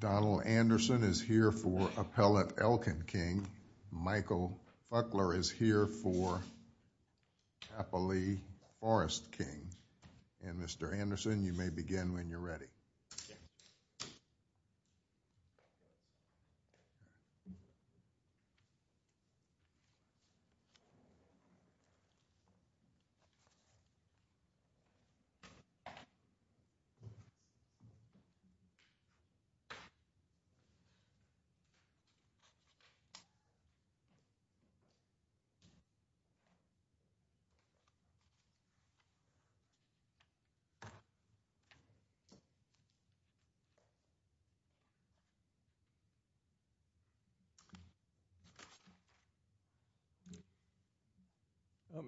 Donald Anderson is here for Appellate Elkin King. Michael Buckler is here for Appalachia Forrest King. And Mr. Anderson, you may begin when you're ready. Thank you.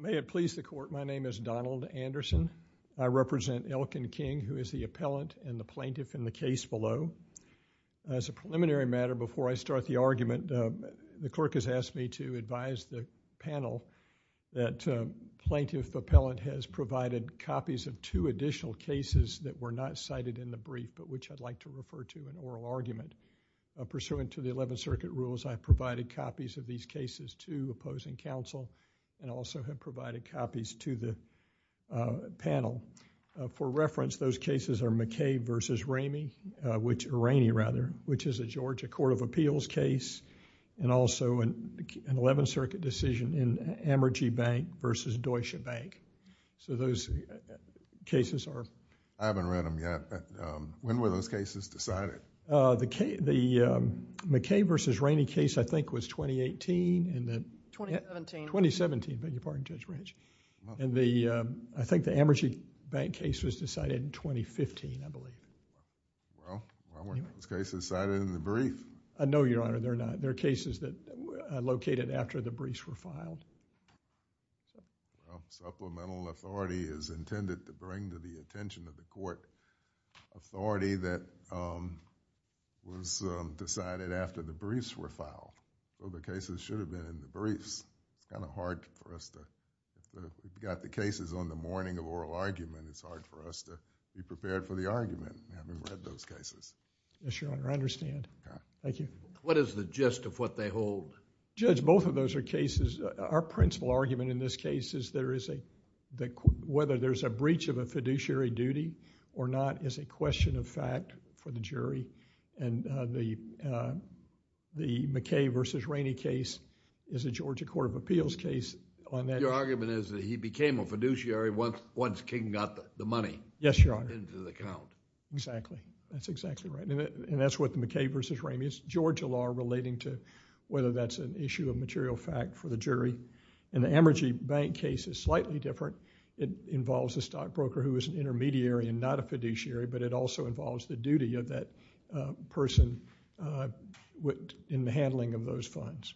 May it please the court, my name is Donald Anderson. I represent Elkin King, who is the appellant and the plaintiff in the case below. As a preliminary matter, before I start the argument, the clerk has asked me to advise the panel that plaintiff appellant has provided copies of two additional cases that were not cited in the brief, but which I'd like to refer to an oral argument. Pursuant to the Eleventh Circuit rules, I've provided copies of these cases to opposing counsel and also have provided copies to the panel. For reference, those cases are McKay v. Rainey, which is a Georgia Court of Appeals case, and also an Eleventh Circuit decision in Amergy Bank v. Deutsche Bank, so those cases are... I haven't read them yet, but when were those cases decided? The McKay v. Rainey case, I think, was 2018 and the... 2017. 2017, beg your pardon, Judge Branch. I think the Amergy Bank case was decided in 2015, I believe. Well, weren't those cases cited in the brief? No, Your Honor, they're not. They're cases that are located after the briefs were filed. Supplemental authority is intended to bring to the attention of the Court authority that was decided after the briefs were filed, so the cases should have been in the briefs. It's kind of hard for us to... We've got the cases on the morning of oral argument. It's hard for us to be prepared for the argument, having read those cases. Yes, Your Honor, I understand. Thank you. What is the gist of what they hold? Well, Judge, both of those are cases... Our principal argument in this case is whether there's a breach of a fiduciary duty or not is a question of fact for the jury and the McKay v. Rainey case is a Georgia Court of Appeals case on that... Your argument is that he became a fiduciary once King got the money... Yes, Your Honor.... into the account. Exactly. That's exactly right. That's what the McKay v. Rainey, it's Georgia law relating to whether that's an issue of material fact for the jury. The Amergy Bank case is slightly different. It involves a stockbroker who is an intermediary and not a fiduciary, but it also involves the duty of that person in the handling of those funds.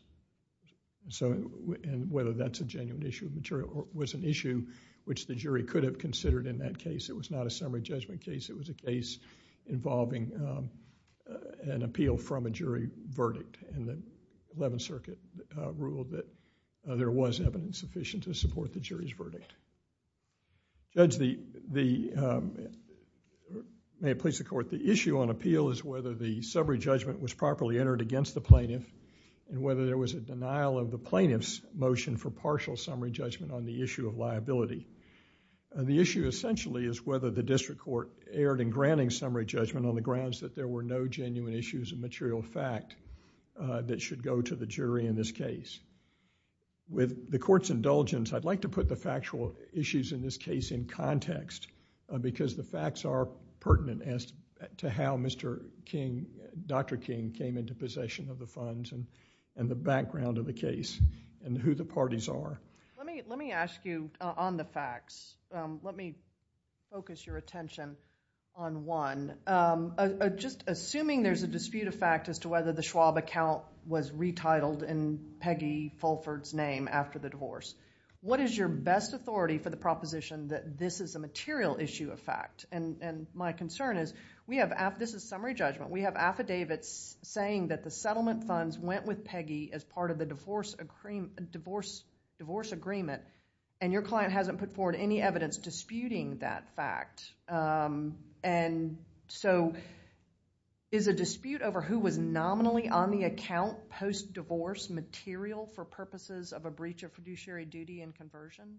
Whether that's a genuine issue of material... was an issue which the jury could have considered in that case. It was not a summary judgment case. It was a case involving an appeal from a jury verdict and the Eleventh Circuit ruled that there was evidence sufficient to support the jury's verdict. Judge, may it please the Court, the issue on appeal is whether the summary judgment was properly entered against the plaintiff and whether there was a denial of the plaintiff's motion for partial summary judgment on the issue of liability. The issue essentially is whether the district court erred in granting summary judgment on the grounds that there were no genuine issues of material fact that should go to the jury in this case. With the Court's indulgence, I'd like to put the factual issues in this case in context because the facts are pertinent as to how Dr. King came into possession of the funds and the background of the case and who the parties are. Let me ask you on the facts. Let me focus your attention on one. Just assuming there's a dispute of fact as to whether the Schwab account was retitled in Peggy Fulford's name after the divorce, what is your best authority for the proposition that this is a material issue of fact? My concern is we have... this is summary judgment. We have affidavits saying that the settlement funds went with Peggy as part of the divorce agreement and your client hasn't put forward any evidence disputing that fact. Is a dispute over who was nominally on the account post-divorce material for purposes of a breach of fiduciary duty and conversion?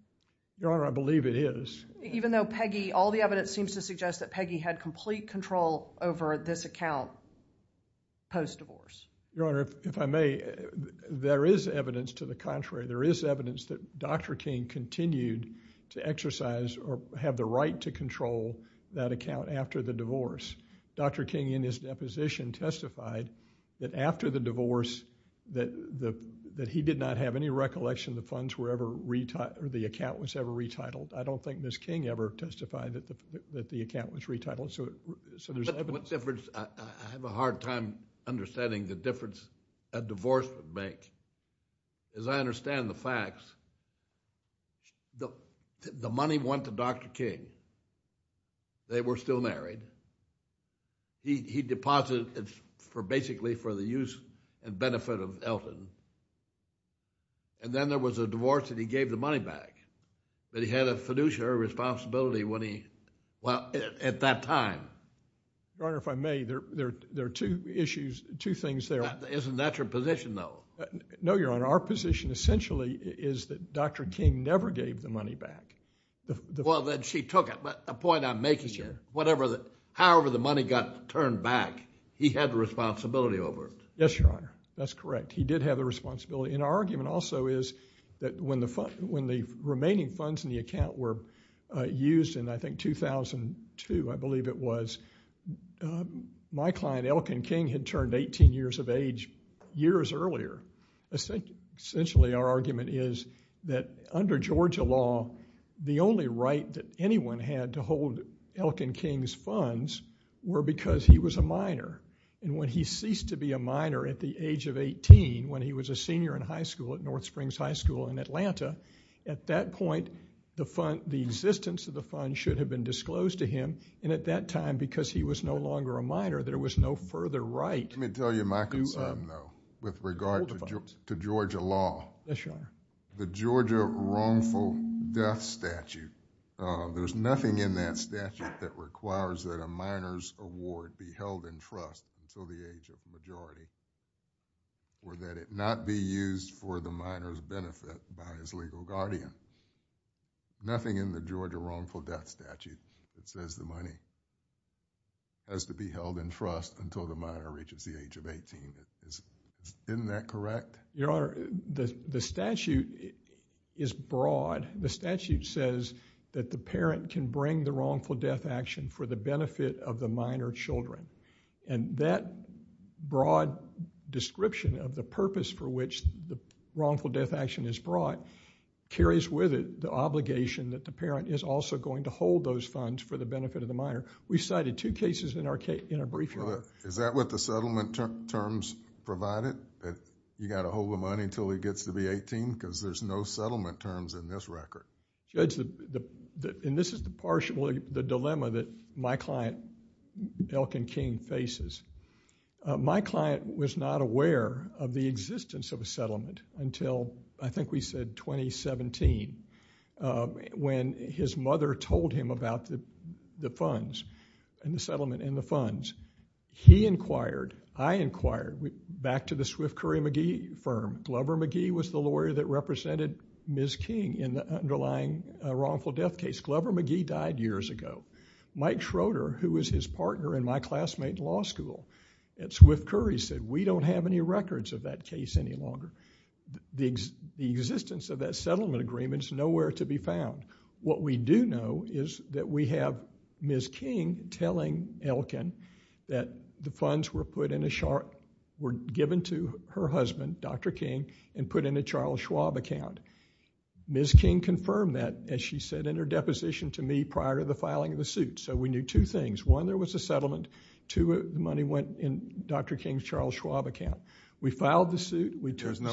Your Honor, I believe it is. Even though Peggy... all the evidence seems to suggest that Peggy had complete control over this account post-divorce? Your Honor, if I may, there is evidence to the contrary. There is evidence that Dr. King continued to exercise or have the right to control that account after the divorce. Dr. King in his deposition testified that after the divorce that he did not have any recollection the funds were ever... or the account was ever retitled. I don't think Ms. King ever testified that the account was retitled. So there's evidence... Your Honor, I have a hard time understanding the difference a divorce would make. As I understand the facts, the money went to Dr. King. They were still married. He deposited it basically for the use and benefit of Elton. And then there was a divorce and he gave the money back. But he had a fiduciary responsibility when he... well, at that time. Your Honor, if I may, there are two issues, two things there. Isn't that your position though? No, Your Honor. Our position essentially is that Dr. King never gave the money back. Well, then she took it. But the point I'm making here, however the money got turned back, he had the responsibility over it. Yes, Your Honor. That's correct. He did have the responsibility. And our argument also is that when the remaining funds in the account were used in, I think, 2002, I believe it was, my client Elkin King had turned 18 years of age years earlier. Essentially, our argument is that under Georgia law, the only right that anyone had to hold Elkin King's funds were because he was a minor. And when he ceased to be a minor at the age of 18, when he was a senior in high school at North Springs High School in Atlanta, at that point, the existence of the fund should have been disclosed to him. And at that time, because he was no longer a minor, there was no further right. Let me tell you my concern though, with regard to Georgia law. Yes, Your Honor. The Georgia wrongful death statute, there's nothing in that statute that requires that a minor's award be held in trust until the age of majority, or that it not be used for the minor's benefit by his legal guardian. Nothing in the Georgia wrongful death statute that says the money has to be held in trust until the minor reaches the age of 18. Isn't that correct? Your Honor, the statute is broad. The statute says that the parent can bring the wrongful death action for the benefit of the minor children. And that broad description of the purpose for which the wrongful death action is brought carries with it the obligation that the parent is also going to hold those funds for the benefit of the minor. We cited two cases in our brief, Your Honor. Is that what the settlement terms provide it? You got to hold the money until he gets to be 18? Because there's no settlement terms in this record. Judge, and this is the dilemma that my client Elkin King faces. My client was not aware of the existence of a settlement until, I think we said, 2017, when his mother told him about the funds and the settlement and the funds. He inquired, I inquired, back to the Swift Curry McGee firm. Glover McGee was the lawyer that represented Ms. King in the underlying wrongful death case. Glover McGee died years ago. Mike Schroeder, who was his partner in my classmate in law school, at Swift Curry said, we don't have any records of that case any longer. The existence of that settlement agreement is nowhere to be found. What we do know is that we have Ms. King telling Elkin that the funds were given to her husband, Dr. King, and put in a Charles Schwab account. Ms. King confirmed that, as she said in her deposition to me, prior to the filing of the suit. So we knew two things. One, there was a settlement. Two, the money went in Dr. King's Charles Schwab account. We filed the suit. We took the suit.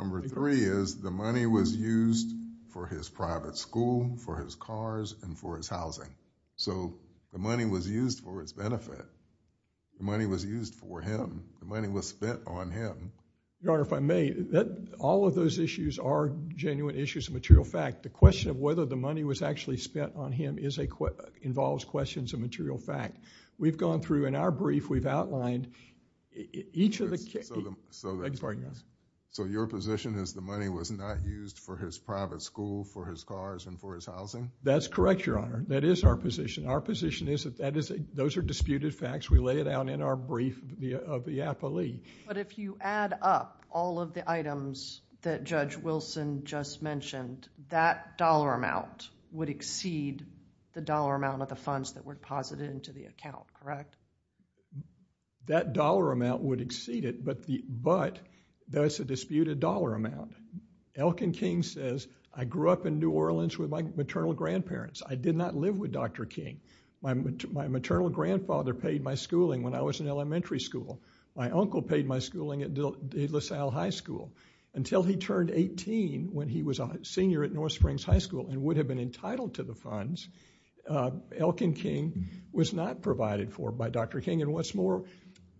Number three is the money was used for his private school, for his cars, and for his housing. So the money was used for its benefit. The money was used for him. The money was spent on him. Your Honor, if I may, all of those issues are genuine issues of material fact. The question of whether the money was actually spent on him involves questions of material fact. We've gone through, in our brief, we've outlined each of the cases. So your position is the money was not used for his private school, for his cars, and for his housing? That's correct, Your Honor. That is our position. Our position is that those are disputed facts. We lay it out in our brief of the appellee. But if you add up all of the items that Judge Wilson just mentioned, that dollar amount would exceed the dollar amount of the funds that were deposited into the account, correct? That dollar amount would exceed it, but that's a disputed dollar amount. Elkin King says, I grew up in New Orleans with my maternal grandparents. I did not live with Dr. King. My maternal grandfather paid my schooling when I was in elementary school. My uncle paid my schooling at De La Salle High School. Until he turned 18, when he was a senior at North Springs High School and would have been entitled to the funds, Elkin King was not provided for by Dr. King. And what's more,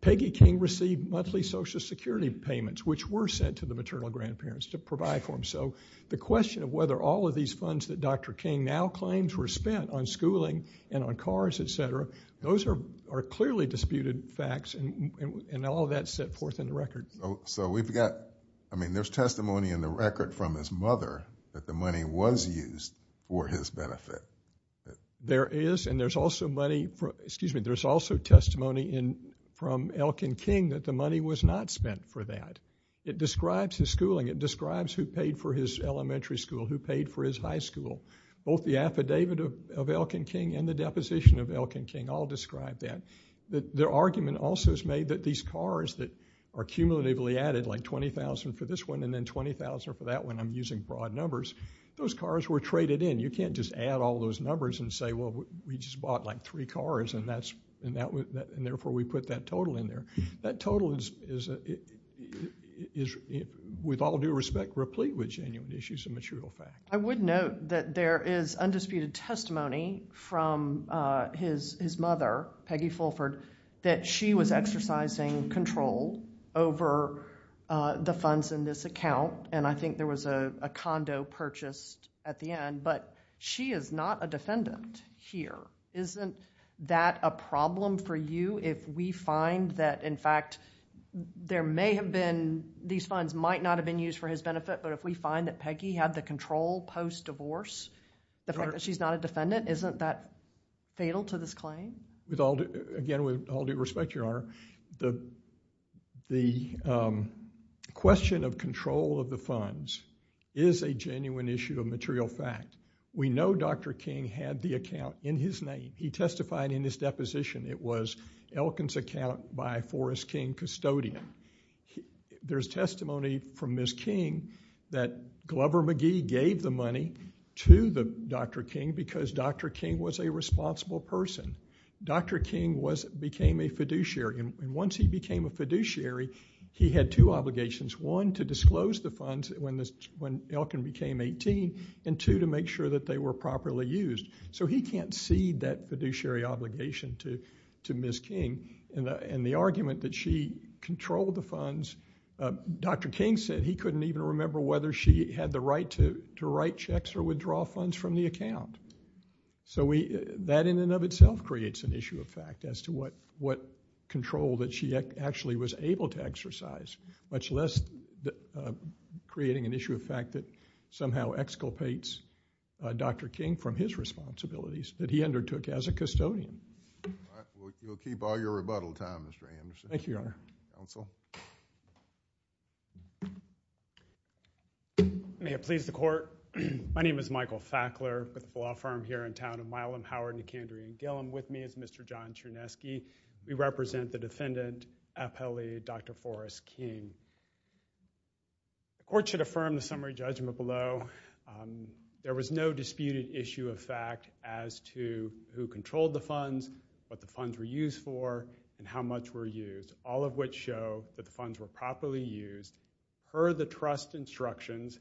Peggy King received monthly Social Security payments, which were sent to the maternal grandparents to provide for him. So the question of whether all of these funds that Dr. King now claims were spent on schooling and on cars, et cetera, those are clearly disputed facts, and all of that's set forth in the record. So we've got, I mean, there's testimony in the record from his mother that the money was used for his benefit. There is, and there's also testimony from Elkin King that the money was not spent for that. It describes his schooling. It describes who paid for his elementary school, who paid for his high school. Both the affidavit of Elkin King and the deposition of Elkin King all describe that. Their argument also is made that these cars that are cumulatively added, like $20,000 for this one and then $20,000 for that one, I'm using broad numbers, those cars were traded in. You can't just add all those numbers and say, well, we just bought like three cars, and therefore we put that total in there. That total is, with all due respect, replete with genuine issues and material facts. I would note that there is undisputed testimony from his mother, Peggy Fulford, that she was exercising control over the funds in this account, and I think there was a condo purchased at the end, but she is not a defendant here. Isn't that a problem for you if we find that, in fact, there may have been, these funds might not have been used for his benefit, but if we find that Peggy had the control post-divorce, the fact that she's not a defendant, isn't that fatal to this claim? Again, with all due respect, Your Honor, the question of control of the funds is a genuine issue of material fact. We know Dr. King had the account in his name. He testified in his deposition. It was Elkin's account by Forrest King Custodian. There's testimony from Ms. King that Glover McGee gave the money to Dr. King because Dr. King was a responsible person. Dr. King became a fiduciary, and once he became a fiduciary, he had two obligations. One, to disclose the funds when Elkin became 18, and two, to make sure that they were properly used. So he can't cede that fiduciary obligation to Ms. King. And the argument that she controlled the funds, Dr. King said he couldn't even remember whether she had the right to write checks or withdraw funds from the account. So that, in and of itself, creates an issue of fact as to what control that she actually was able to exercise, much less creating an issue of fact that somehow exculpates Dr. King from his responsibilities that he undertook as a custodian. All right. We'll keep all your rebuttal time, Mr. Anderson. Thank you, Your Honor. Counsel. May it please the court. My name is Michael Fackler with the law firm here in town of Milam, Howard, and Kandrean-Gillum. With me is Mr. John Chernesky. We represent the defendant, appellee Dr. Forrest King. The court should affirm the summary judgment below. There was no disputed issue of fact as to who controlled the funds, what the funds were used for, and how much were used, all of which show that the funds were properly used per the trust instructions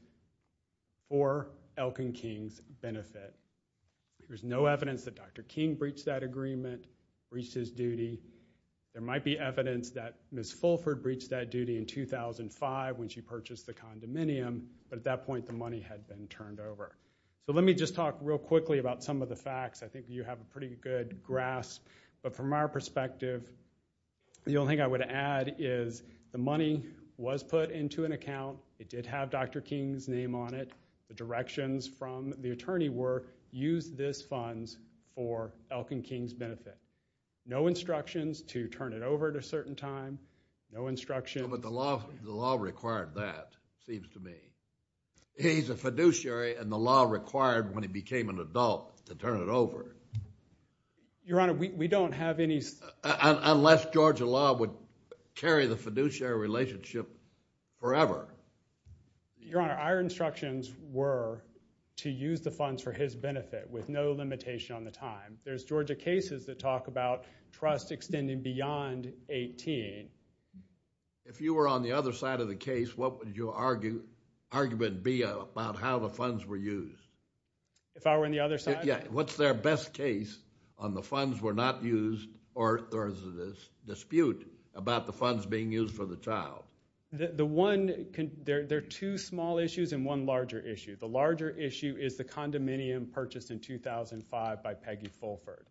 for Elkin King's benefit. There's no evidence that Dr. King breached that agreement, breached his duty. There might be evidence that Ms. Fulford breached that duty in 2005 when she purchased the condominium. But at that point, the money had been turned over. So let me just talk real quickly about some of the facts. I think you have a pretty good grasp. But from our perspective, the only thing I would add is the money was put into an account. It did have Dr. King's name on it. The directions from the attorney were, use this funds for Elkin King's benefit. No instructions to turn it over at a certain time. No instructions. But the law required that, it seems to me. He's a fiduciary, and the law required when he became an adult to turn it over. Your Honor, we don't have any. Unless Georgia law would carry the fiduciary relationship forever. Your Honor, our instructions were to use the funds for his benefit with no limitation on the time. There's Georgia cases that talk about trust extending beyond 18. If you were on the other side of the case, what would your argument be about how the funds were used? If I were on the other side? Yeah. What's their best case on the funds were not used, or there is a dispute about the funds being used for the child? There are two small issues and one larger issue. The larger issue is the condominium purchased in 2005 by Peggy Fulford.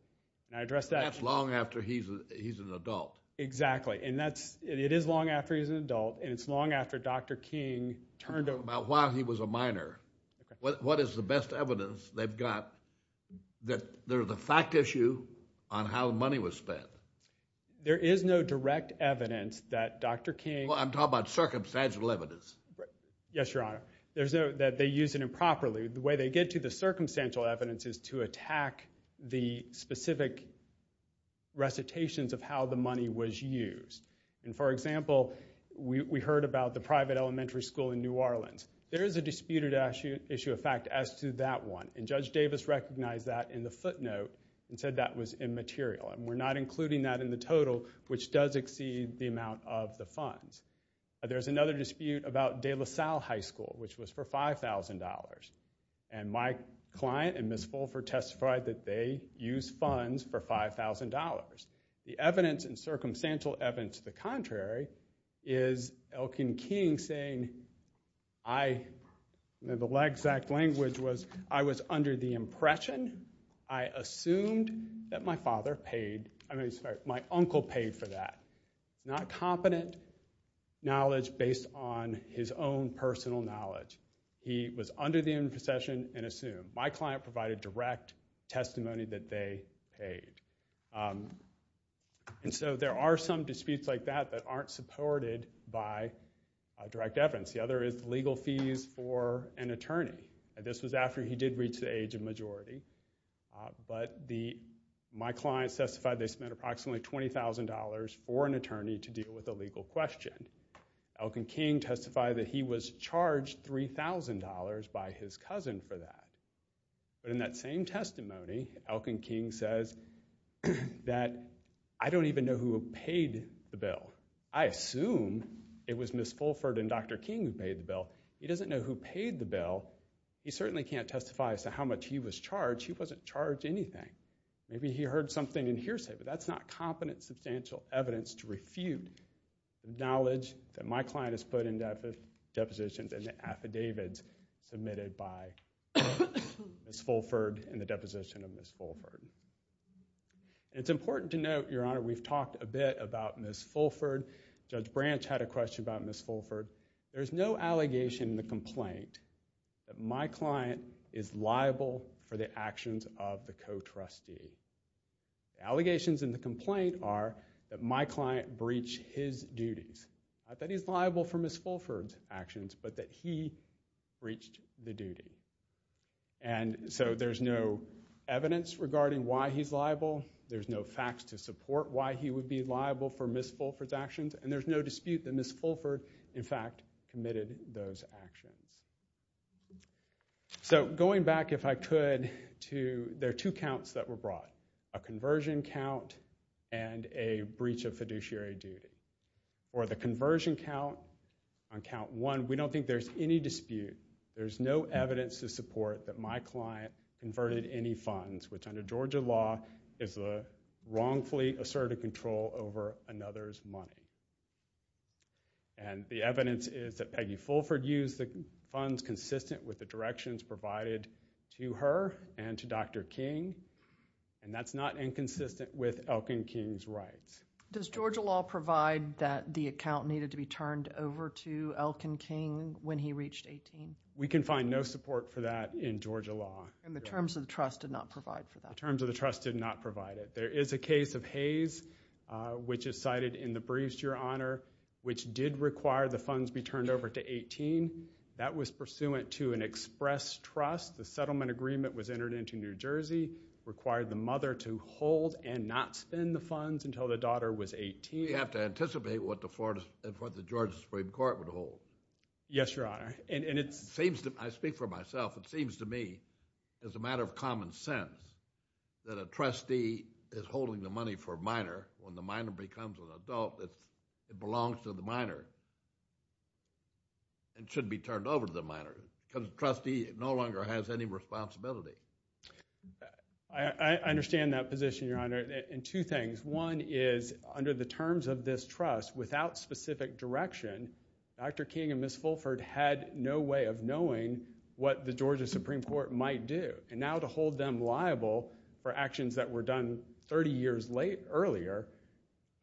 And I addressed that. That's long after he's an adult. Exactly. It is long after he's an adult, and it's long after Dr. King turned over. About while he was a minor. What is the best evidence they've got that there's a fact issue on how the money was spent? There is no direct evidence that Dr. King. Well, I'm talking about circumstantial evidence. Yes, Your Honor. That they used it improperly. The way they get to the circumstantial evidence is to attack the specific recitations of how the money was used. And for example, we heard about the private elementary school in New Orleans. There is a disputed issue of fact as to that one. And Judge Davis recognized that in the footnote and said that was immaterial. And we're not including that in the total, which does exceed the amount of the funds. There's another dispute about De La Salle High School, which was for $5,000. And my client and Ms. Fulford testified that they used funds for $5,000. The evidence and circumstantial evidence to the contrary is Elkin King saying, the exact language was, I was under the impression, I assumed that my father paid, I'm sorry, my uncle paid for that. Not competent knowledge based on his own personal knowledge. He was under the imposition and assumed. My client provided direct testimony that they paid. And so there are some disputes like that that aren't supported by direct evidence. The other is legal fees for an attorney. This was after he did reach the age of majority. But my client testified they spent approximately $20,000 for an attorney to deal with a legal question. Elkin King testified that he was charged $3,000 by his cousin for that. But in that same testimony, Elkin King says that, I don't even know who paid the bill. I assume it was Ms. Fulford and Dr. King who paid the bill. He doesn't know who paid the bill. He certainly can't testify as to how much he was charged. He wasn't charged anything. Maybe he heard something in hearsay, but that's not competent substantial evidence to refute the knowledge that my client has put in depositions and the affidavits submitted by Ms. Fulford and the deposition of Ms. Fulford. It's important to note, Your Honor, we've talked a bit about Ms. Fulford. Judge Branch had a question about Ms. Fulford. There is no allegation in the complaint that my client is liable for the actions of the co-trustee. Allegations in the complaint are that my client breached his duties. Not that he's liable for Ms. Fulford's actions, but that he breached the duty. And so there's no evidence regarding why he's liable. There's no facts to support why he would be liable for Ms. Fulford's actions. And there's no dispute that Ms. Fulford, in fact, committed those actions. So going back, if I could, to, there are two counts that were brought. A conversion count and a breach of fiduciary duty. For the conversion count, on count one, we don't think there's any dispute. There's no evidence to support that my client converted any funds, which under Georgia law is a wrongfully asserted control over another's money. And the evidence is that Peggy Fulford used the funds consistent with the directions provided to her and to Dr. King. And that's not inconsistent with Elkin King's rights. Does Georgia law provide that the account needed to be turned over to Elkin King when he reached 18? We can find no support for that in Georgia law. And the terms of the trust did not provide for that. The terms of the trust did not provide it. There is a case of Hayes, which is cited in the briefs, Your Honor, which did require the funds be turned over to 18. That was pursuant to an express trust. The settlement agreement was entered into New Jersey, required the mother to hold and not spend the funds until the daughter was 18. You have to anticipate what the Georgia Supreme Court would hold. Yes, Your Honor. And it's- I speak for myself. It seems to me, as a matter of common sense, that a trustee is holding the money for a minor. When the minor becomes an adult, it belongs to the minor. It shouldn't be turned over to the minor, because the trustee no longer has any responsibility. I understand that position, Your Honor, in two things. One is, under the terms of this trust, without specific direction, Dr. King and Ms. Fulford had no way of knowing what the Georgia Supreme Court might do. And now to hold them liable for actions that were done 30 years earlier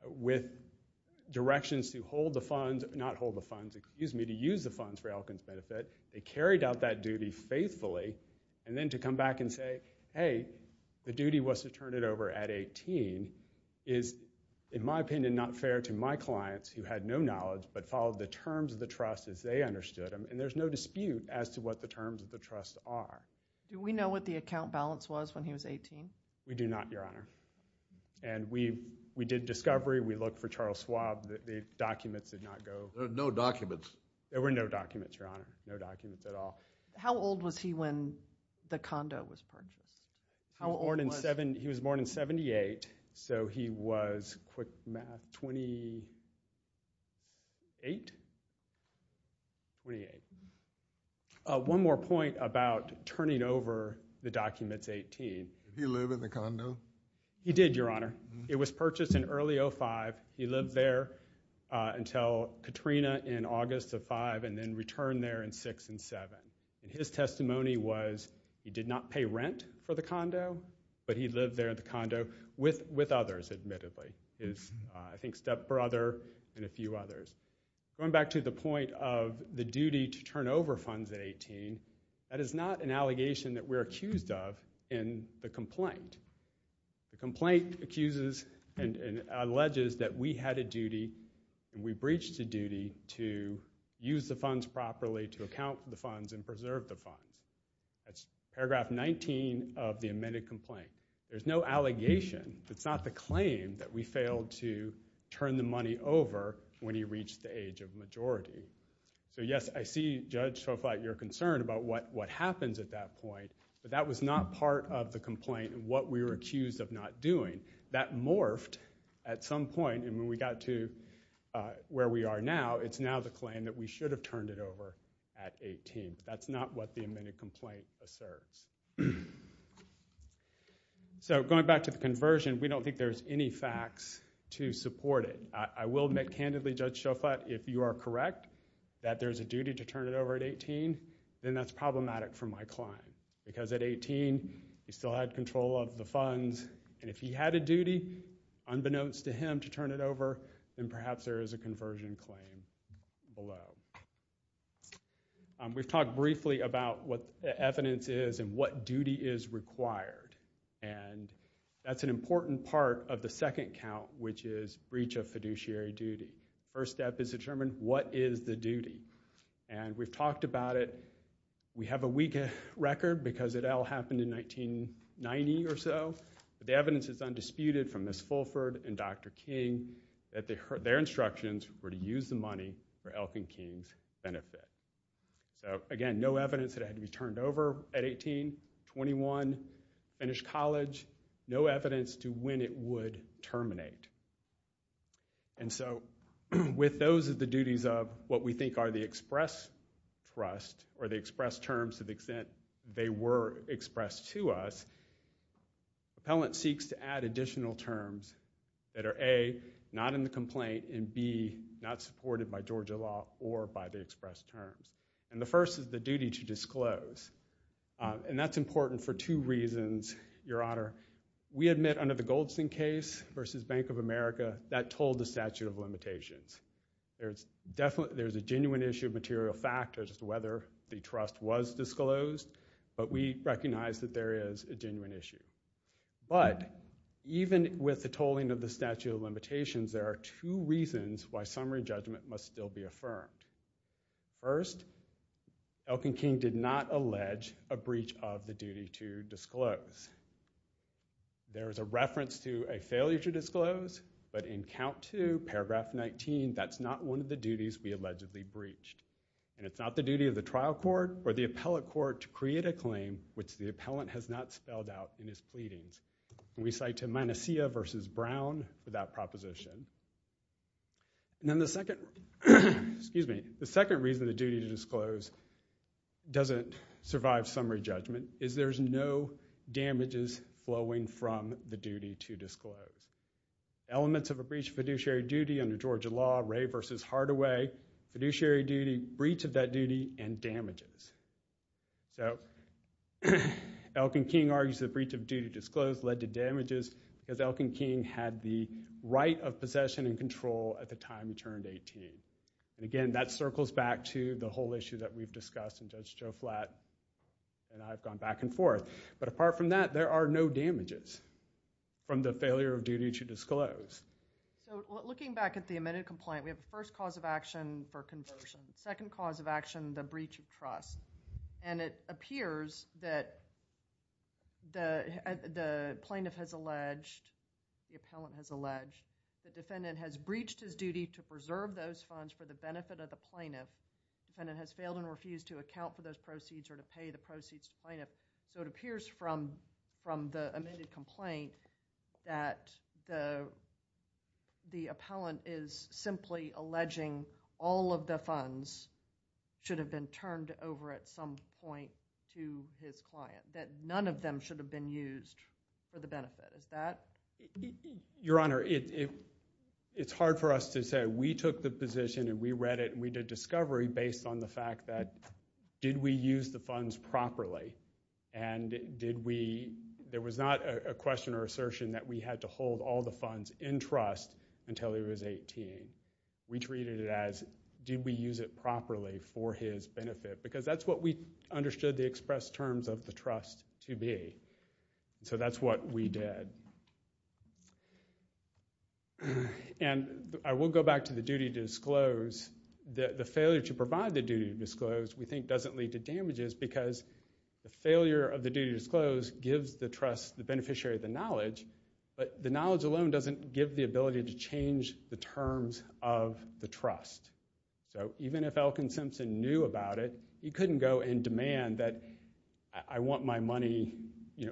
with directions to hold the funds, not hold the funds, excuse me, to use the funds for Elkins' benefit, they carried out that duty faithfully. And then to come back and say, hey, the duty was to turn it over at 18 is, in my opinion, not fair to my clients, who had no knowledge but followed the terms of the trust as they understood them. And there's no dispute as to what the terms of the trust are. Do we know what the account balance was when he was 18? We do not, Your Honor. And we did discovery. We looked for Charles Schwab. The documents did not go. There were no documents. There were no documents, Your Honor, no documents at all. How old was he when the condo was purchased? How old was he? He was born in 78. So he was, quick math, 28? 28. One more point about turning over the documents 18. Did he live in the condo? He did, Your Honor. It was purchased in early 05. He lived there until Katrina in August of 05, and then returned there in 06 and 07. His testimony was he did not pay rent for the condo, but he lived there in the condo with others, admittedly. His, I think, stepbrother and a few others. Going back to the point of the duty to turn over funds at 18, that is not an allegation that we're accused of in the complaint. The complaint accuses and alleges that we had a duty, we breached a duty to use the funds properly, to account the funds, and preserve the funds. That's paragraph 19 of the amended complaint. There's no allegation. It's not the claim that we failed to turn the money over when he reached the age of majority. So yes, I see, Judge Soflite, your concern about what happens at that point, but that was not part of the complaint and what we were accused of not doing. That morphed at some point, and when we got to where we are now, it's now the claim that we should have turned it over at 18. That's not what the amended complaint asserts. So going back to the conversion, we don't think there's any facts to support it. I will admit, candidly, Judge Soflite, if you are correct that there is a duty to turn it over at 18, then that's problematic for my client. Because at 18, he still had control of the funds, and if he had a duty, unbeknownst to him, to turn it over, then perhaps there is a conversion claim below. We've talked briefly about what the evidence is and what duty is required, and that's an important part of the second count, which is breach of fiduciary duty. First step is to determine what is the duty, and we've talked about it. We have a weak record because it all happened in 1990 or so. The evidence is undisputed from Ms. Fulford and Dr. King that their instructions were to use the money for Elkin benefit. Again, no evidence that it had to be turned over at 18, 21, finish college, no evidence to when it would terminate. And so with those of the duties of what we think are the express thrust, or the express terms to the extent they were expressed to us, appellant seeks to add additional terms that are A, not in the complaint, and B, not supported by Georgia law or by the express terms. And the first is the duty to disclose, and that's important for two reasons, Your Honor. We admit under the Goldstein case versus Bank of America, that told the statute of limitations. There's a genuine issue of material factors as to whether the trust was disclosed, but we recognize that there is a genuine issue. But even with the tolling of the statute of limitations, there are two reasons why summary judgment must still be affirmed. First, Elkin King did not allege a breach of the duty to disclose. There is a reference to a failure to disclose, but in count two, paragraph 19, that's not one of the duties we allegedly breached. And it's not the duty of the trial court or the appellate court to create a claim which the appellant has not spelled We cite to Manasseh versus Brown for that proposition. And then the second reason the duty to disclose doesn't survive summary judgment is there's no damages flowing from the duty to disclose. Elements of a breach of fiduciary duty under Georgia law, Ray versus Hardaway, fiduciary duty, breach of that duty, and damages. So Elkin King argues the breach of duty to disclose led to damages because Elkin King had the right of possession and control at the time he turned 18. And again, that circles back to the whole issue that we've discussed, and Judge Joe Flatt and I have gone back and forth. But apart from that, there are no damages from the failure of duty to disclose. So looking back at the amended complaint, we have a first cause of action for conversion, second cause of action, the breach of trust. And it appears that the plaintiff has alleged, the appellant has alleged, the defendant has breached his duty to preserve those funds for the benefit of the plaintiff, defendant has failed and refused to account for those proceeds or to pay the proceeds to the plaintiff. So it appears from the amended complaint that the appellant is simply alleging all of the funds should have been turned over at some point to his client, that none of them should have been used for the benefit. Is that? Your Honor, it's hard for us to say, we took the position and we read it, we did discovery based on the fact that, did we use the funds properly? And did we, there was not a question or assertion that we had to hold all the funds in trust until he was 18. We treated it as, did we use it properly for his benefit? Because that's what we understood the express terms of the trust to be. So that's what we did. And I will go back to the duty to disclose, the failure to provide the duty to disclose, we think doesn't lead to damages because the failure of the duty to disclose gives the trust, the beneficiary of the knowledge, but the knowledge alone doesn't give the ability to change the terms of the trust. So even if Elkin Simpson knew about it, he couldn't go and demand that I want my money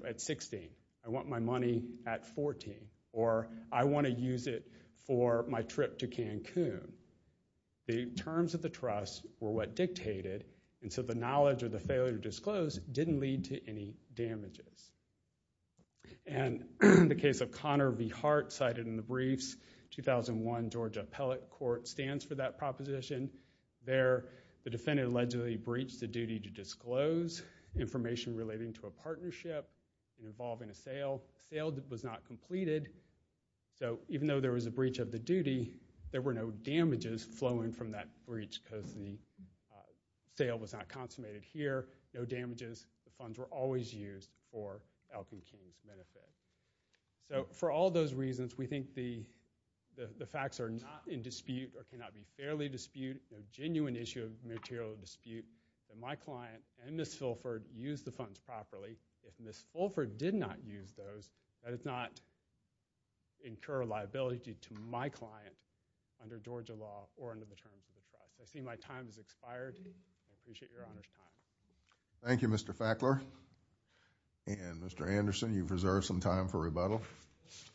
at 16, I want my money at 14, or I wanna use it for my trip to Cancun. The terms of the trust were what dictated, and so the knowledge of the failure to disclose didn't lead to any damages. And in the case of Connor v. Hart, cited in the briefs, 2001 Georgia Appellate Court stands for that proposition. There, the defendant allegedly breached the duty to disclose information relating to a partnership involving a sale, a sale that was not completed. So even though there was a breach of the duty, there were no damages flowing from that breach because the sale was not consummated here, no damages, the funds were always used for Elkin King's benefit. So for all those reasons, we think the facts are not in dispute, or cannot be fairly disputed, there's a genuine issue of material dispute that my client and Ms. Fulford used the funds properly. If Ms. Fulford did not use those, that does not incur a liability to my client under Georgia law or under the terms of the trust. I see my time has expired. I appreciate your honest comment. Thank you, Mr. Fackler. And Mr. Anderson, you've reserved some time for rebuttal. Thank you.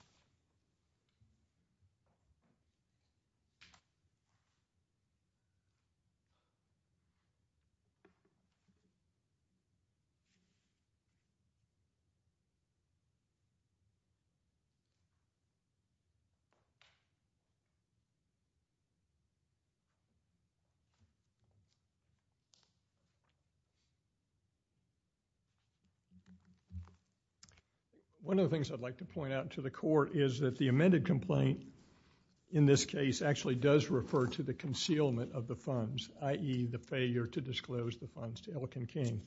One of the things I'd like to point out to the court is that the amended complaint, in this case, actually does refer to the concealment of the funds, i.e. the failure to disclose the funds to Elkin King.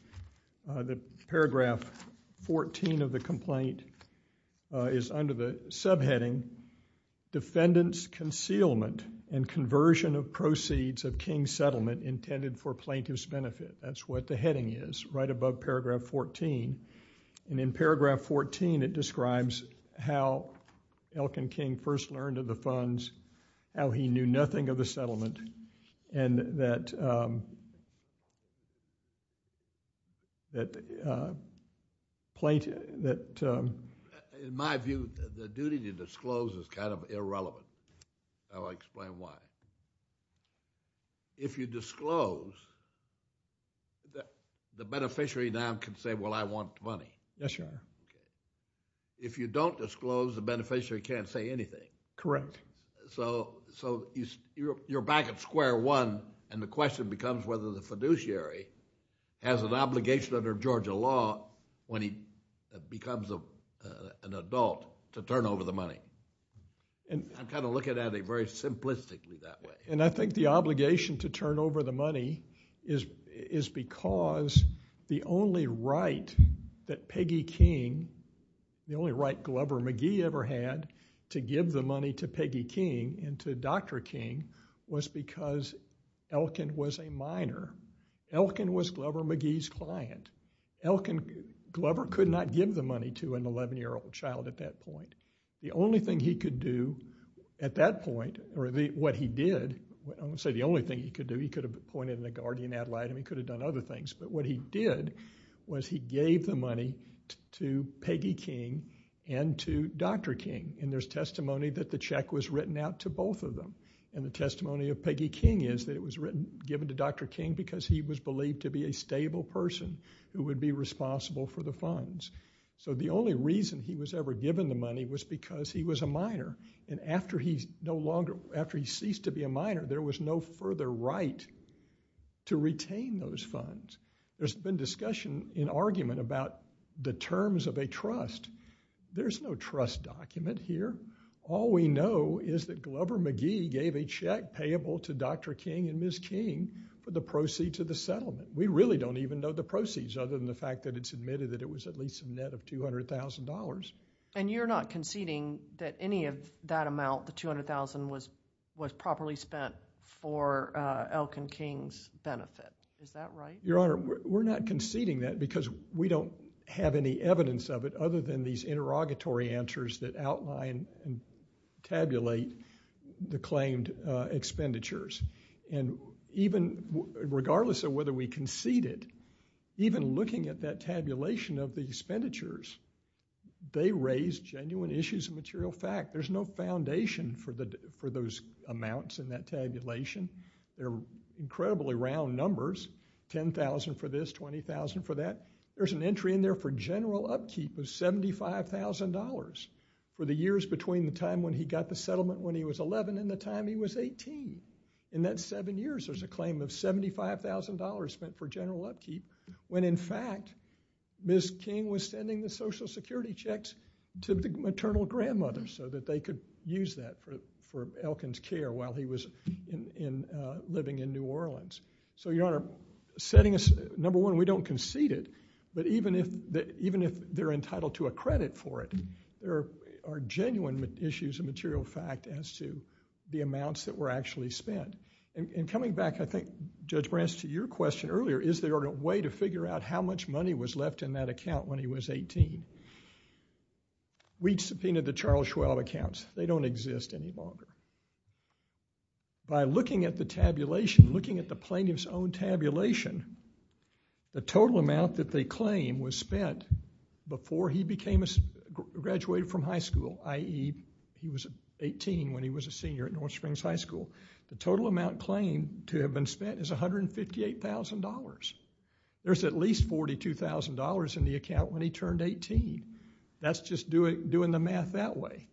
The paragraph 14 of the complaint is under the subheading, Defendant's Concealment and Conversion of Proceeds of King's Settlement Intended for Plaintiff's Benefit. That's what the heading is, right above paragraph 14. And in paragraph 14, it describes how Elkin King first learned of the funds how he knew nothing of the settlement, and that plaintiff, that... In my view, the duty to disclose is kind of irrelevant. I'll explain why. If you disclose, the beneficiary now can say, well, I want money. Yes, Your Honor. If you don't disclose, the beneficiary can't say anything. Correct. You're back at square one, and the question becomes whether the fiduciary has an obligation under Georgia law when he becomes an adult to turn over the money. I'm kind of looking at it very simplistically that way. And I think the obligation to turn over the money is because the only right that Peggy King, the only right Glover McGee ever had, to give the money to Peggy King and to Dr. King was because Elkin was a minor. Elkin was Glover McGee's client. Elkin, Glover could not give the money to an 11-year-old child at that point. The only thing he could do at that point, or what he did, I won't say the only thing he could do, he could have appointed a guardian ad litem, he could have done other things, but what he did was he gave the money to Peggy King and to Dr. King. And there's testimony that the check was written out to both of them. And the testimony of Peggy King is that it was given to Dr. King because he was believed to be a stable person who would be responsible for the funds. So the only reason he was ever given the money was because he was a minor. And after he ceased to be a minor, there was no further right to retain those funds. There's been discussion and argument about the terms of a trust. There's no trust document here. All we know is that Glover McGee gave a check payable to Dr. King and Ms. King for the proceeds of the settlement. We really don't even know the proceeds other than the fact that it's admitted that it was at least a net of $200,000. And you're not conceding that any of that amount, the $200,000, was properly spent for Elkin King's benefit. Is that right? Your Honor, we're not conceding that because we don't have any evidence of it other than these interrogatory answers that outline and tabulate the claimed expenditures. And even regardless of whether we conceded, even looking at that tabulation of the expenditures, they raise genuine issues of material fact. There's no foundation for those amounts in that tabulation. They're incredibly round numbers, 10,000 for this, 20,000 for that. There's an entry in there for general upkeep of $75,000 for the years between the time when he got the settlement when he was 11 and the time he was 18. In that seven years, there's a claim of $75,000 spent for general upkeep when in fact, Ms. King was sending the Social Security checks to the maternal grandmother so that they could use that for Elkin's care while he was living in New Orleans. So, Your Honor, number one, we don't concede it, but even if they're entitled to a credit for it, there are genuine issues of material fact as to the amounts that were actually spent. And coming back, I think, Judge Branch, to your question earlier, is there a way to figure out how much money was left in that account when he was 18? We subpoenaed the Charles Schwab accounts. They don't exist any longer. By looking at the tabulation, looking at the plaintiff's own tabulation, the total amount that they claim was spent before he graduated from high school, i.e., he was 18 when he was a senior at North Springs High School. The total amount claimed to have been spent is $158,000. There's at least $42,000 in the account when he turned 18. That's just doing the math that way.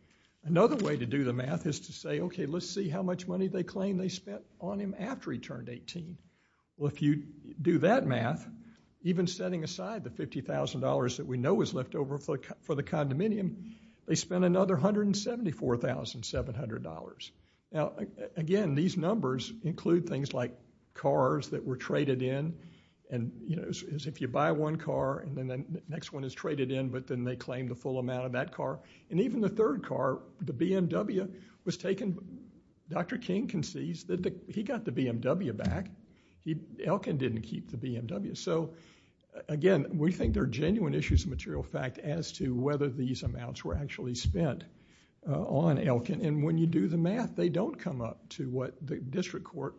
Another way to do the math is to say, okay, let's see how much money they claim they spent on him after he turned 18. Well, if you do that math, even setting aside the $50,000 that we know was left over for the condominium, they spent another $174,700. Now, again, these numbers include things like cars that were traded in, and if you buy one car and then the next one is traded in, but then they claim the full amount of that car. And even the third car, the BMW was taken. Dr. King concedes that he got the BMW back. Elkin didn't keep the BMW. So, again, we think there are genuine issues of material fact as to whether these amounts were actually spent on Elkin. And when you do the math, they don't come up to what the district court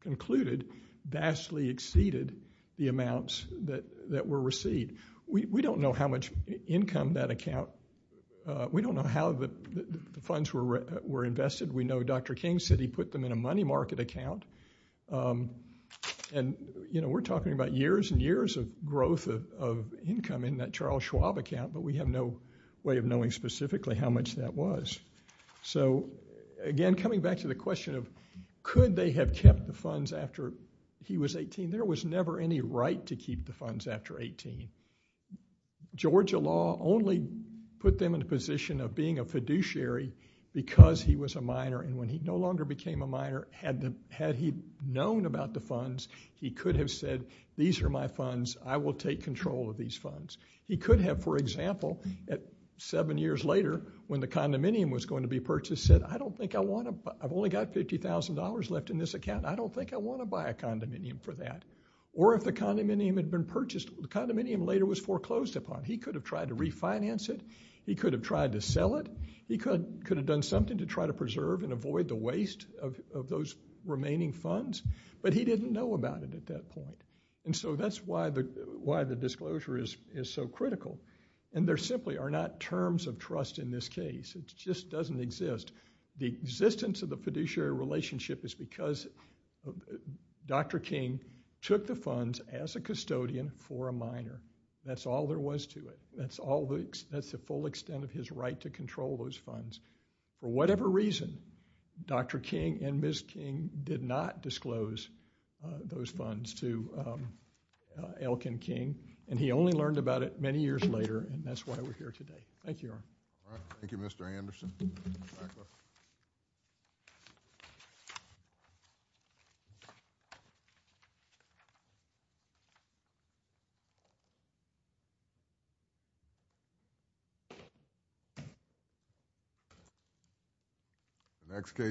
concluded vastly exceeded the amounts that were received. We don't know how much income that account, we don't know how the funds were invested. We know Dr. King said he put them in a money market account. And, you know, we're talking about years and years of growth of income in that Charles Schwab account, but we have no way of knowing specifically how much that was. So, again, coming back to the question of could they have kept the funds after he was 18? There was never any right to keep the funds after 18. Georgia law only put them in a position of being a fiduciary because he was a minor. And when he no longer became a minor, had he known about the funds, he could have said, these are my funds, I will take control of these funds. He could have, for example, seven years later, when the condominium was going to be purchased, said, I don't think I want to, I've only got $50,000 left in this account, I don't think I want to buy a condominium for that. Or if the condominium had been purchased, the condominium later was foreclosed upon. He could have tried to refinance it, he could have tried to sell it, he could have done something to try to preserve and avoid the waste of those remaining funds, but he didn't know about it at that point. And so that's why the disclosure is so critical. And there simply are not terms of trust in this case. It just doesn't exist. The existence of the fiduciary relationship is because Dr. King took the funds as a custodian for a minor. That's all there was to it. That's the full extent of his right to control those funds. For whatever reason, Dr. King and Ms. King did not disclose those funds to Elkin King, and he only learned about it many years later, and that's why we're here today. Thank you. Thank you, Mr. Anderson. Thank you. Next case.